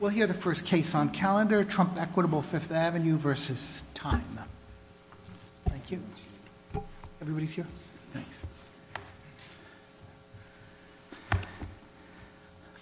We'll hear the first case on calendar, Trump equitable Fifth Avenue versus Time. Thank you. Everybody's here? Thanks.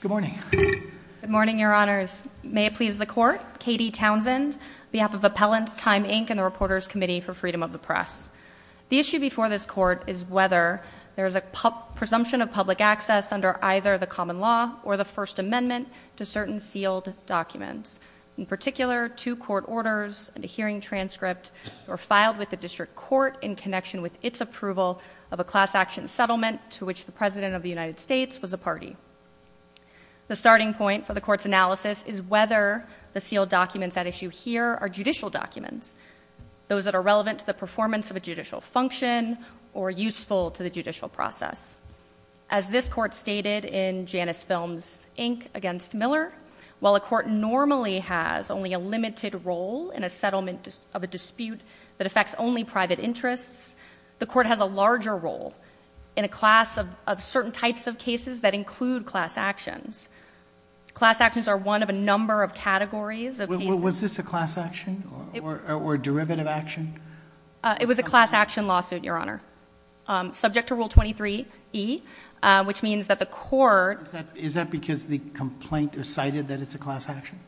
Good morning. Good morning, Your Honors. May it please the Court. Katie Townsend, behalf of Appellants, Time, Inc. and the Reporters Committee for Freedom of the Press. The issue before this court is whether there is a presumption of public access under either the common law or the First Amendment to certain sealed documents. In particular, two court orders and a hearing transcript were filed with the district court in connection with its approval of a class action settlement to which the President of the United States was a party. The starting point for the court's analysis is whether the sealed documents at issue here are judicial documents, those that are relevant to the performance of a judicial function or useful to the judicial process. As this court stated in Janus Films, Inc. against Miller, while a court normally has only a limited role in a settlement of a dispute that affects only private interests, the court has a larger role in a class of certain types of cases that include class actions. Class actions are one of a number of categories. Was this a class action or derivative action? It was a class action lawsuit, Your Honor, subject to Rule 23e, which means that the court... Is that because the complaint recited that it's a class action?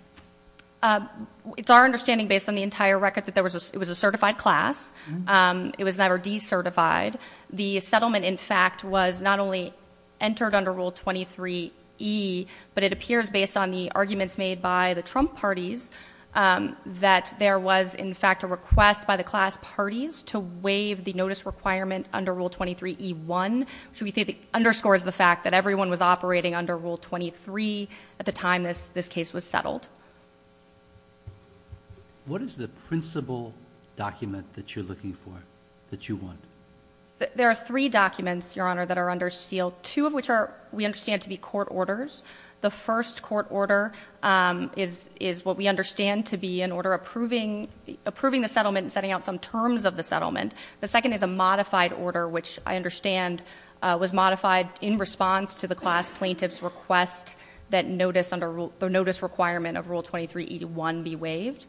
It's our understanding, based on the entire record, that there was a certified class. It was never decertified. The settlement, in fact, was not only entered under Rule 23e, but it appears, based on the arguments made by the Trump parties, that there was, in fact, an attempt by the class parties to waive the notice requirement under Rule 23e1, which we think underscores the fact that everyone was operating under Rule 23 at the time this case was settled. What is the principal document that you're looking for, that you want? There are three documents, Your Honor, that are under seal, two of which we understand to be court orders. The first court order is what we understand to be an order approving the settlement and setting out some terms of the settlement. The second is a modified order, which I understand was modified in response to the class plaintiff's request that notice under Rule — the notice requirement of Rule 23e1 be waived.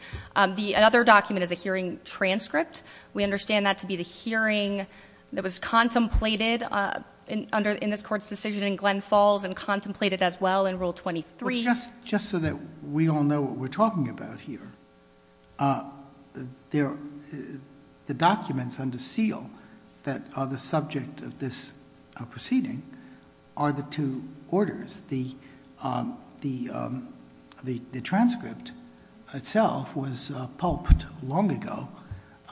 The other document is a hearing transcript. We understand that to be the hearing that was contemplated under — in this Court's decision in Glen Falls and contemplated as well in Rule 23. Just so that we all know what we're talking about here, the documents under seal that are the subject of this proceeding are the two orders. The transcript itself was pulped long ago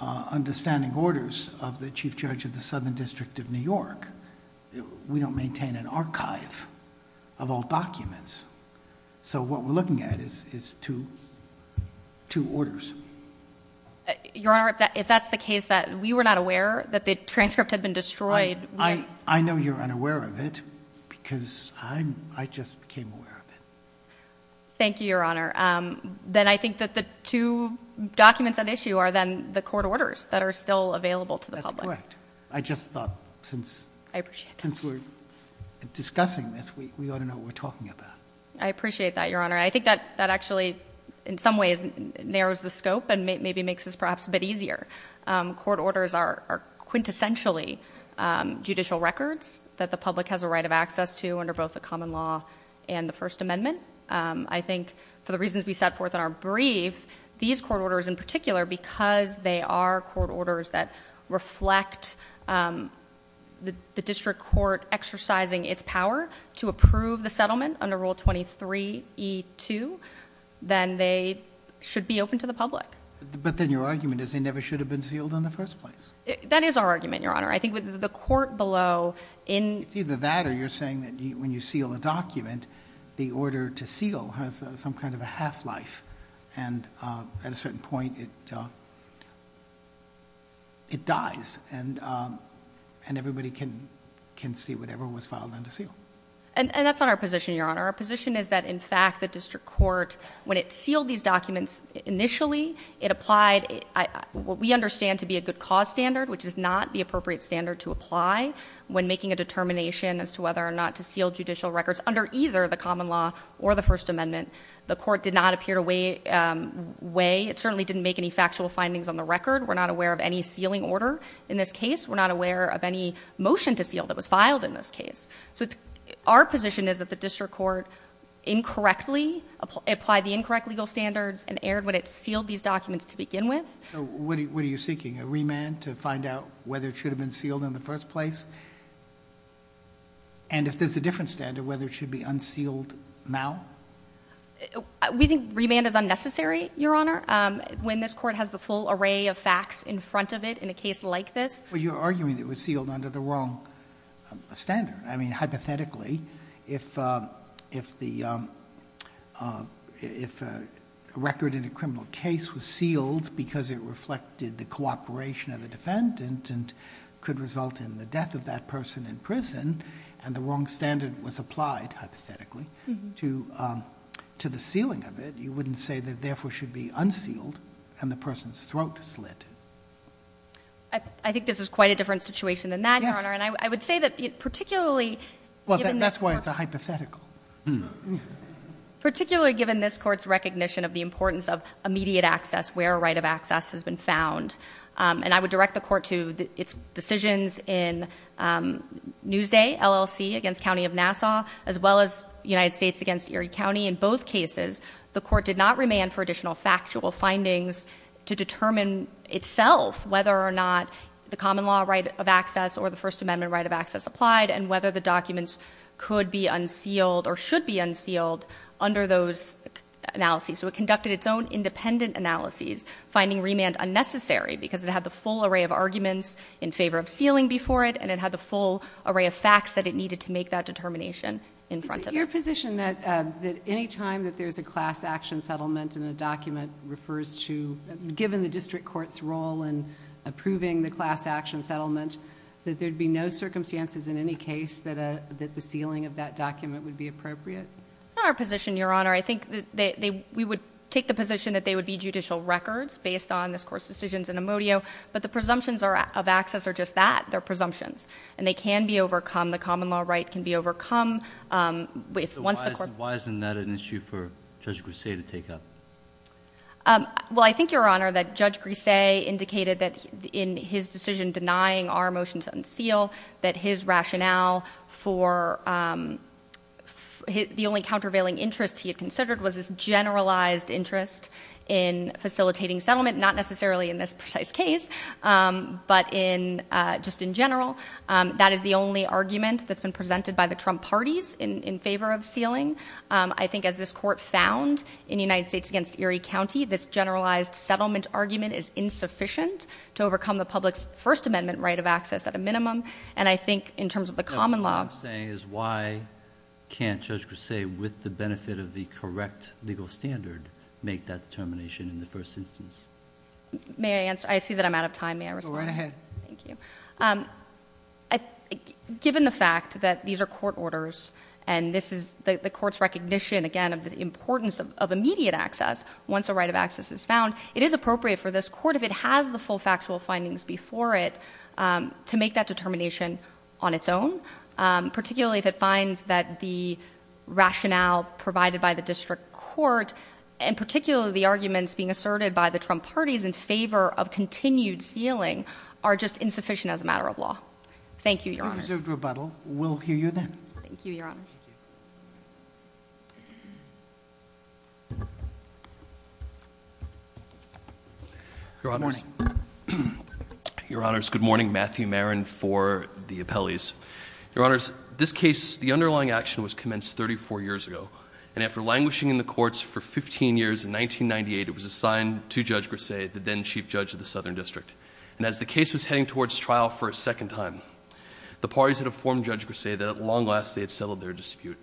under standing orders of the Chief Judge of the District. So what we're looking at is two orders. Your Honor, if that's the case, that we were not aware that the transcript had been destroyed — I know you're unaware of it because I just became aware of it. Thank you, Your Honor. Then I think that the two documents at issue are then the court orders that are still available to the public. That's correct. I just thought since we're discussing this, we ought to know what we're talking about. I appreciate that, Your Honor. I think that actually in some ways narrows the scope and maybe makes this perhaps a bit easier. Court orders are quintessentially judicial records that the public has a right of access to under both the common law and the First Amendment. I think for the reasons we set forth in our brief, these court orders in particular, because they are court orders that reflect the Article 23E2, then they should be open to the public. But then your argument is they never should have been sealed in the first place. That is our argument, Your Honor. I think with the court below — It's either that or you're saying that when you seal a document, the order to seal has some kind of a half-life. And at a certain point, it dies and everybody can see whatever was filed under seal. And that's not our position, Your Honor. Our position is that in fact the district court, when it sealed these documents initially, it applied what we understand to be a good cause standard, which is not the appropriate standard to apply when making a determination as to whether or not to seal judicial records under either the common law or the First Amendment. The court did not appear to weigh — it certainly didn't make any factual findings on the record. We're not aware of any sealing order in this case. We're not aware of any motion to seal that was filed in this case. So it's — our position is that the district court incorrectly applied the incorrect legal standards and erred when it sealed these documents to begin with. So what are you seeking, a remand to find out whether it should have been sealed in the first place? And if there's a different standard, whether it should be unsealed now? We think remand is unnecessary, Your Honor, when this court has the full array of facts in front of it in a case like this. But you're arguing it was sealed under the wrong standard. I mean, hypothetically, if the — if a record in a criminal case was sealed because it reflected the cooperation of the defendant and could result in the death of that person in prison, and the wrong standard was applied, hypothetically, to the sealing of it, you wouldn't say that it therefore should be unsealed and the person's throat slit. I think this is quite a different situation than that, Your Honor. And I would say that particularly — Well, that's why it's a hypothetical. Particularly given this court's recognition of the importance of immediate access, where a right of access has been found. And I would direct the court to its decisions in Newsday LLC against County of Nassau, as well as United States against Erie County. In both cases, the court did not remand for itself whether or not the common law right of access or the First Amendment right of access applied, and whether the documents could be unsealed or should be unsealed under those analyses. So it conducted its own independent analyses, finding remand unnecessary because it had the full array of arguments in favor of sealing before it, and it had the full array of facts that it needed to make that determination in front of it. Is it your position that any time that there's a class action settlement and a document refers to — given the district court's role in approving the class action settlement — that there'd be no circumstances in any case that the sealing of that document would be appropriate? It's not our position, Your Honor. I think that we would take the position that they would be judicial records based on this court's decisions in Amodio, but the presumptions of access are just that. They're presumptions. And they can be Why isn't that an issue for Judge Grisey to take up? Well, I think, Your Honor, that Judge Grisey indicated that in his decision denying our motion to unseal, that his rationale for — the only countervailing interest he had considered was his generalized interest in facilitating settlement, not necessarily in this precise case, but in — just in general. That is the only argument that's been presented by the Trump party's in favor of sealing. I think as this court found in United States against Erie County, this generalized settlement argument is insufficient to overcome the public's First Amendment right of access at a minimum. And I think in terms of the common law — What I'm saying is why can't Judge Grisey, with the benefit of the correct legal standard, make that determination in the first instance? May I answer? I see that I'm out of time. May I respond? Go right ahead. Thank you. Given the fact that these are court orders, and this is the court's recognition, again, of the importance of immediate access, once a right of access is found, it is appropriate for this court, if it has the full factual findings before it, to make that determination on its own, particularly if it finds that the rationale provided by the district court, and particularly the arguments being asserted by the Trump party's in favor of continued sealing, are just insufficient as a matter of law. Thank you, Your Honors. If there is no further rebuttal, we'll hear you then. Thank you, Your Honors. Your Honors. Your Honors, good morning. Matthew Maron for the appellees. Your Honors, this case, the underlying action was commenced 34 years ago, and after languishing in the courts for 15 years in 1998, it was assigned to Judge Grisey, the then Chief Judge of the Southern District. And as the case was proceeding towards trial for a second time, the parties had informed Judge Grisey that at long last they had settled their dispute.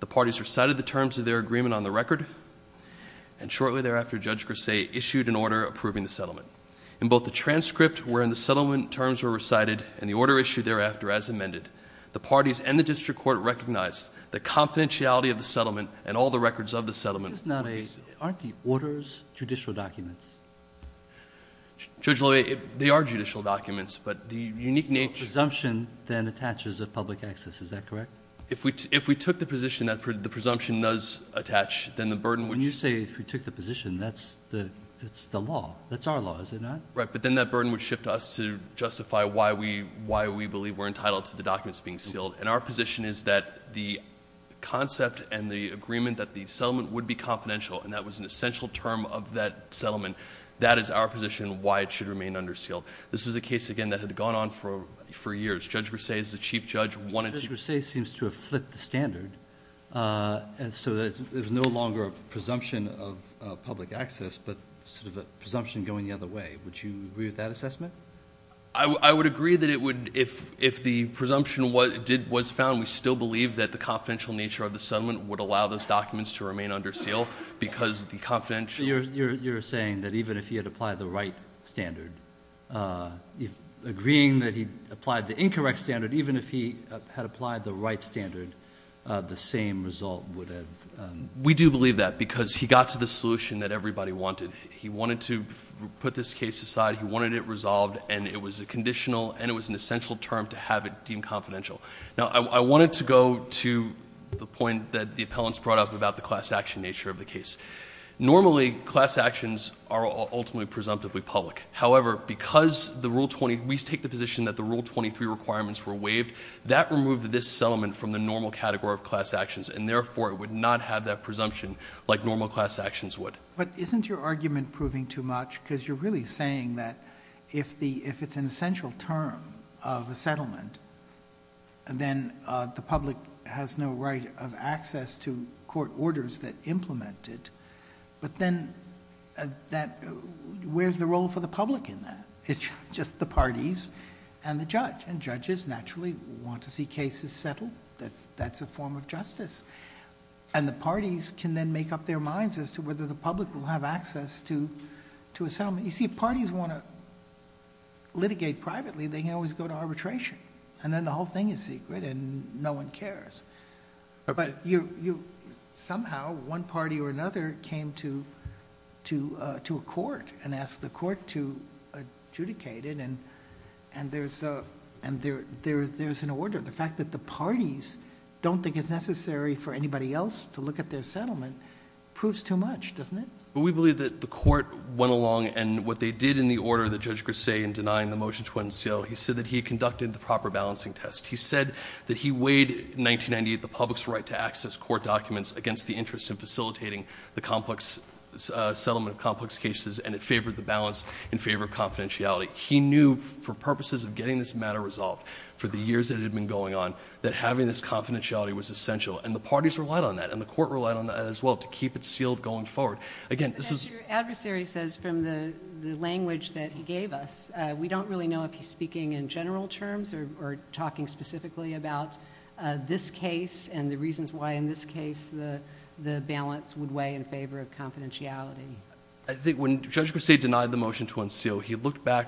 The parties recited the terms of their agreement on the record, and shortly thereafter, Judge Grisey issued an order approving the settlement. In both the transcript, wherein the settlement terms were recited, and the order issued thereafter as amended, the parties and the district court recognized the confidentiality of the settlement and all the records of the settlement. Aren't the orders judicial documents? Judge Loewe, they are judicial documents, but the unique nature- Presumption then attaches a public access, is that correct? If we took the position that the presumption does attach, then the burden would- When you say if we took the position, that's the law. That's our law, is it not? Right, but then that burden would shift to us to justify why we believe we're entitled to the documents being sealed. And our position is that the concept and the agreement that the settlement would be confidential, and that was an That is our position, why it should remain under seal. This was a case, again, that had gone on for years. Judge Grisey is the chief judge- Judge Grisey seems to have flipped the standard, and so there's no longer a presumption of public access, but sort of a presumption going the other way. Would you agree with that assessment? I would agree that if the presumption was found, we still believe that the confidential nature of the settlement would allow those documents to remain under seal, because the confidential- So you're saying that even if he had applied the right standard, agreeing that he applied the incorrect standard, even if he had applied the right standard, the same result would have- We do believe that, because he got to the solution that everybody wanted. He wanted to put this case aside, he wanted it resolved, and it was a conditional, and it was an essential term to have it deemed confidential. Now, I wanted to go to the point that the appellants brought up about the class action nature of the case. Normally, class actions are ultimately presumptively public. However, because we take the position that the Rule 23 requirements were waived, that removed this settlement from the normal category of class actions, and therefore it would not have that presumption like normal class actions would. But isn't your argument proving too much? Because you're really saying that if it's an essential term of a settlement, then the public has no right of access to court orders that implement it. But then, where's the role for the public in that? It's just the parties and the judge, and judges naturally want to see cases settled. That's a form of justice. And the parties can then make up their minds as to whether the public will have access to a settlement. You see, if parties want to litigate privately, they can always go to Somehow, one party or another came to a court and asked the court to adjudicate it, and there's an order. The fact that the parties don't think it's necessary for anybody else to look at their settlement proves too much, doesn't it? Well, we believe that the court went along, and what they did in the order that Judge Grisey in denying the motion to unseal, he said that he conducted the proper balancing test. He said that he weighed, in 1998, the public's right to access court documents against the interest in facilitating the settlement of complex cases, and it favored the balance in favor of confidentiality. He knew, for purposes of getting this matter resolved, for the years that it had been going on, that having this confidentiality was essential. And the parties relied on that, and the court relied on that as well, to keep it sealed going forward. But as your adversary says, from the language that he gave us, we don't really know if he's speaking in general terms or talking specifically about this case and the reasons why, in this case, the balance would weigh in favor of confidentiality. I think when Judge Grisey denied the motion to unseal, he looked back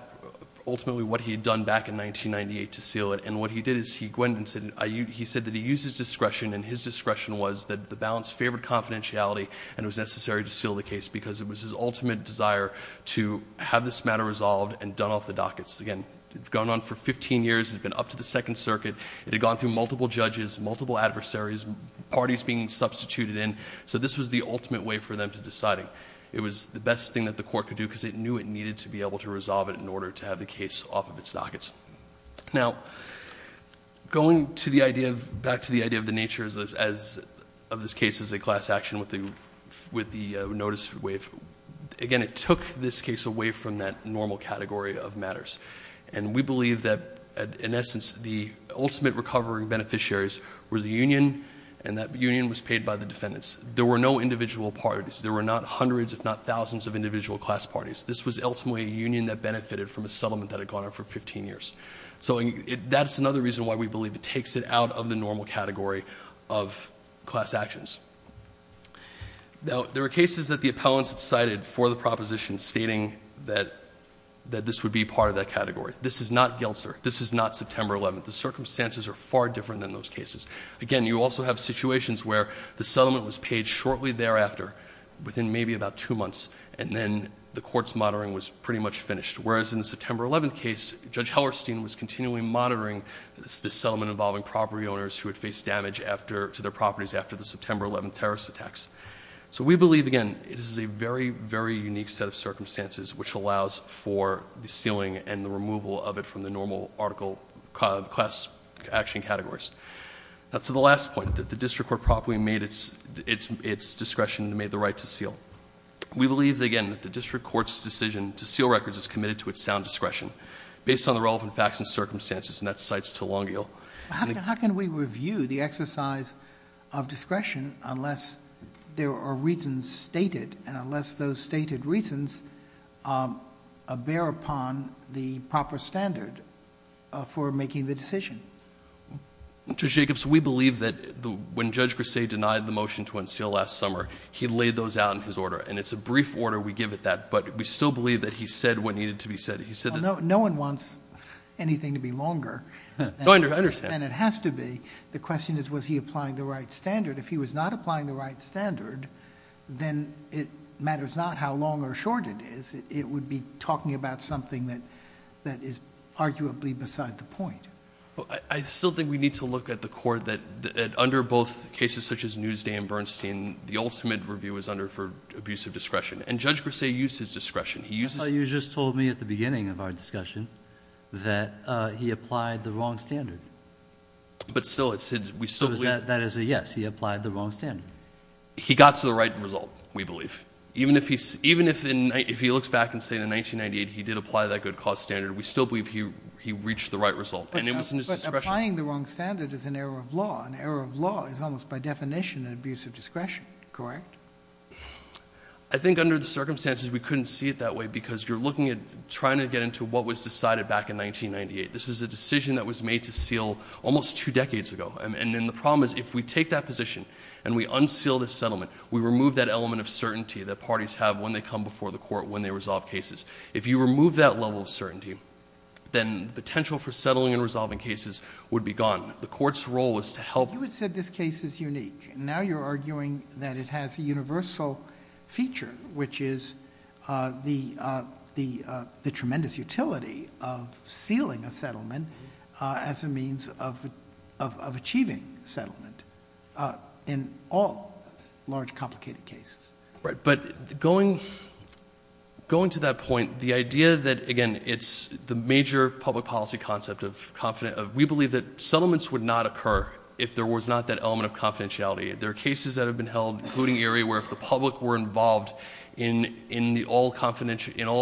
ultimately what he had done back in 1998 to seal it, and what he did is he went and said that he used his discretion, and his discretion was that the balance favored confidentiality and it was necessary to seal the case because it was his ultimate desire to have this matter resolved and done off the dockets. Again, it had gone on for 15 years. It had been up to the Second Circuit, multiple judges, multiple adversaries, parties being substituted in, so this was the ultimate way for them to decide it. It was the best thing that the court could do because it knew it needed to be able to resolve it in order to have the case off of its dockets. Now, going back to the idea of the nature of this case as a class action with the notice waive, again, it took this case away from that normal category of matters. And we believe that, in essence, the ultimate recovering beneficiaries were the union, and that union was paid by the defendants. There were no individual parties. There were not hundreds if not thousands of individual class parties. This was ultimately a union that benefited from a settlement that had gone on for 15 years. So that's another reason why we believe it takes it out of the normal category of class actions. Now, there are cases that the appellants had cited for the proposition stating that this would be part of that category. This is not Geltzer. This is not September 11th. The circumstances are far different than those cases. Again, you also have situations where the settlement was paid shortly thereafter, within maybe about two months, and then the court's monitoring was pretty much finished, whereas in the September 11th case, Judge Hellerstein was continually monitoring this settlement involving property owners who had faced damage to their properties after the September 11th terrorist attacks. So we believe, again, this is a very, very unique set of circumstances which allows for the sealing and the removal of it from the normal article class action categories. Now, to the last point, that the district court properly made its discretion and made the right to seal. We believe, again, that the district court's decision to seal records is committed to its sound discretion, based on the relevant facts and circumstances, and that cites Telangiel. How can we review the exercise of discretion unless there are reasons stated and unless those stated reasons bear upon the proper standard for making the decision? Mr. Jacobs, we believe that when Judge Grisey denied the motion to unseal last summer, he laid those out in his order, and it's a brief order we give at that, but we still believe that he said what needed to be said. He said that no one wants anything to be longer than it has to be. I understand. The question is, was he applying the right standard? If he was not applying the right standard, then it matters not how long or short it is. It would be talking about something that is arguably beside the point. I still think we need to look at the court that, under both cases such as Newsday and Bernstein, the ultimate review is under for abusive discretion, and Judge Grisey used his discretion. He used... You just told me at the beginning of our discussion that he applied the wrong standard. But still, we still believe... That is a yes. He applied the wrong standard. He got to the right result, we believe. Even if he looks back and says in 1998 he did apply that good cause standard, we still believe he reached the right result, and it was in his discretion. But applying the wrong standard is an error of law. An error of law is almost by definition an abuse of discretion, correct? I think under the circumstances, we couldn't see it that way because you're looking at trying to get into what was decided back in 1998. This was a position and we unseal this settlement, we remove that element of certainty that parties have when they come before the court when they resolve cases. If you remove that level of certainty, then potential for settling and resolving cases would be gone. The court's role is to help... You had said this case is unique, and now you're arguing that it has a universal feature, which is the tremendous utility of sealing a settlement as a means of achieving settlement in all large complicated cases. But going to that point, the idea that, again, it's the major public policy concept of... we believe that settlements would not occur if there was not that element of confidentiality. There are cases that have been held, including Erie, where if the public were involved in all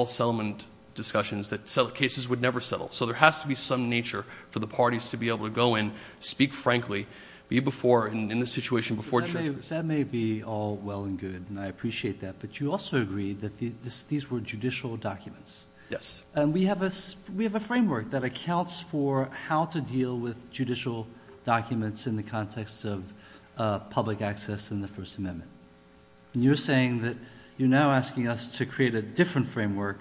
settlement discussions, the cases would never settle. So there has to be some nature for the parties to be able to go in, speak frankly, be in the situation before judges. That may be all well and good, and I appreciate that, but you also agree that these were judicial documents. Yes. We have a framework that accounts for how to deal with judicial documents in the context of public access in the First Amendment. You're saying that you're now asking us to create a different framework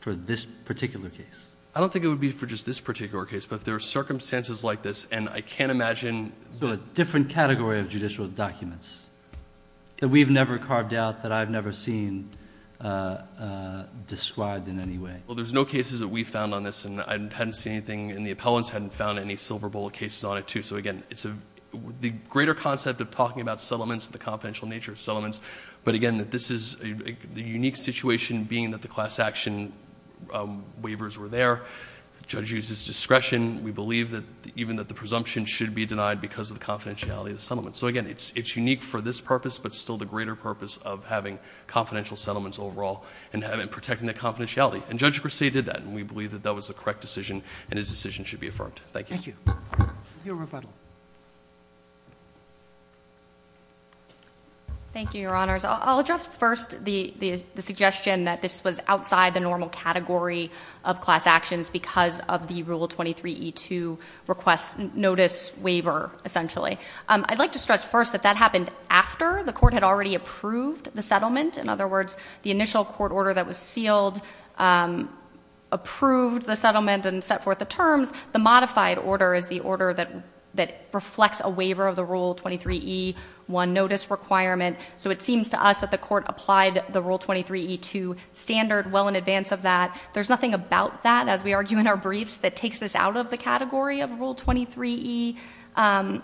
for this particular case. I don't think it would be for just this particular case, but if there are circumstances like this, and I can't imagine... A different category of judicial documents that we've never carved out, that I've never seen described in any way. Well, there's no cases that we found on this, and I hadn't seen anything, and the appellants hadn't found any silver bullet cases on it, too. So, again, it's the greater concept of talking about settlements, and the confidential nature of settlements. But, again, this is a unique situation, being that the class action waivers were there. The judge used his discretion. We believe that even the presumption should be denied because of the confidentiality of the settlement. So, again, it's unique for this purpose, but still the greater purpose of having confidential settlements overall, and protecting the confidentiality. And Judge Grosset did that, and we believe that that was the correct decision, and his decision should be affirmed. Thank you. Thank you. Your rebuttal. Thank you, Your Honors. I'll address first the suggestion that this was outside the normal category of class actions because of the Rule 23E2 request notice waiver, essentially. I'd like to stress first that that happened after the court had already approved the settlement. In other words, the initial court order that was sealed approved the settlement and set forth the terms. The modified order is the order that reflects a waiver of the Rule 23E1 notice requirement. So it seems to us that the court applied the Rule 23E2 standard well in advance of that. There's nothing about that, as we argue in our briefs, that takes this out of the category of Rule 23E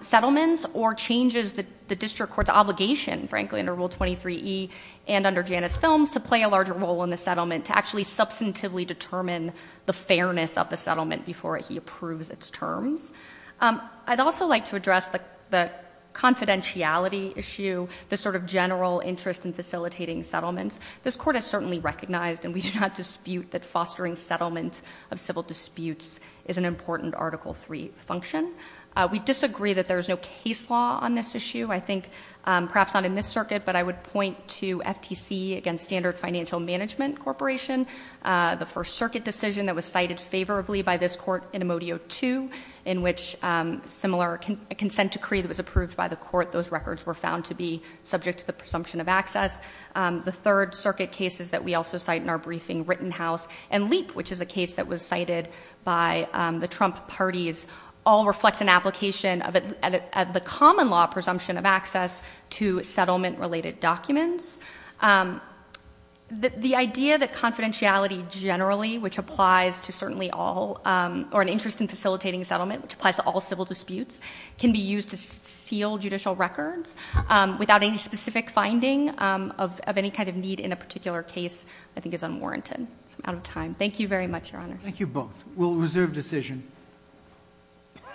settlements or changes the district court's obligation, frankly, under Rule 23E and under Janus Films to play a larger role in the settlement, to actually substantively determine the fairness of the settlement before he approves its terms. I'd also like to address the confidentiality issue, the sort of general interest in facilitating settlements. This court has certainly recognized, and we do not dispute, that fostering settlement of civil disputes is an important Article III function. We disagree that there is no case law on this issue. I think, perhaps not in this circuit, but I would point to FTC, again, Standard Financial Management Corporation, the First Circuit decision that was cited favorably by this court in Amodio II, in which a similar consent decree that was approved by the court, those records were found to be subject to the presumption of access. The Third Circuit cases that we also cite in our briefing, Rittenhouse and Leap, which is a case that was cited by the Trump parties, all reflect an application of the common law presumption of access to settlement-related documents. The idea that confidentiality generally, which applies to certainly all, or an interest in facilitating settlement, which applies to all civil disputes, can be used to seal judicial records without any specific finding of any kind of need in a particular case, I think is unwarranted. I'm out of time. Thank you very much, Your Honors. Thank you both. We'll reserve decision.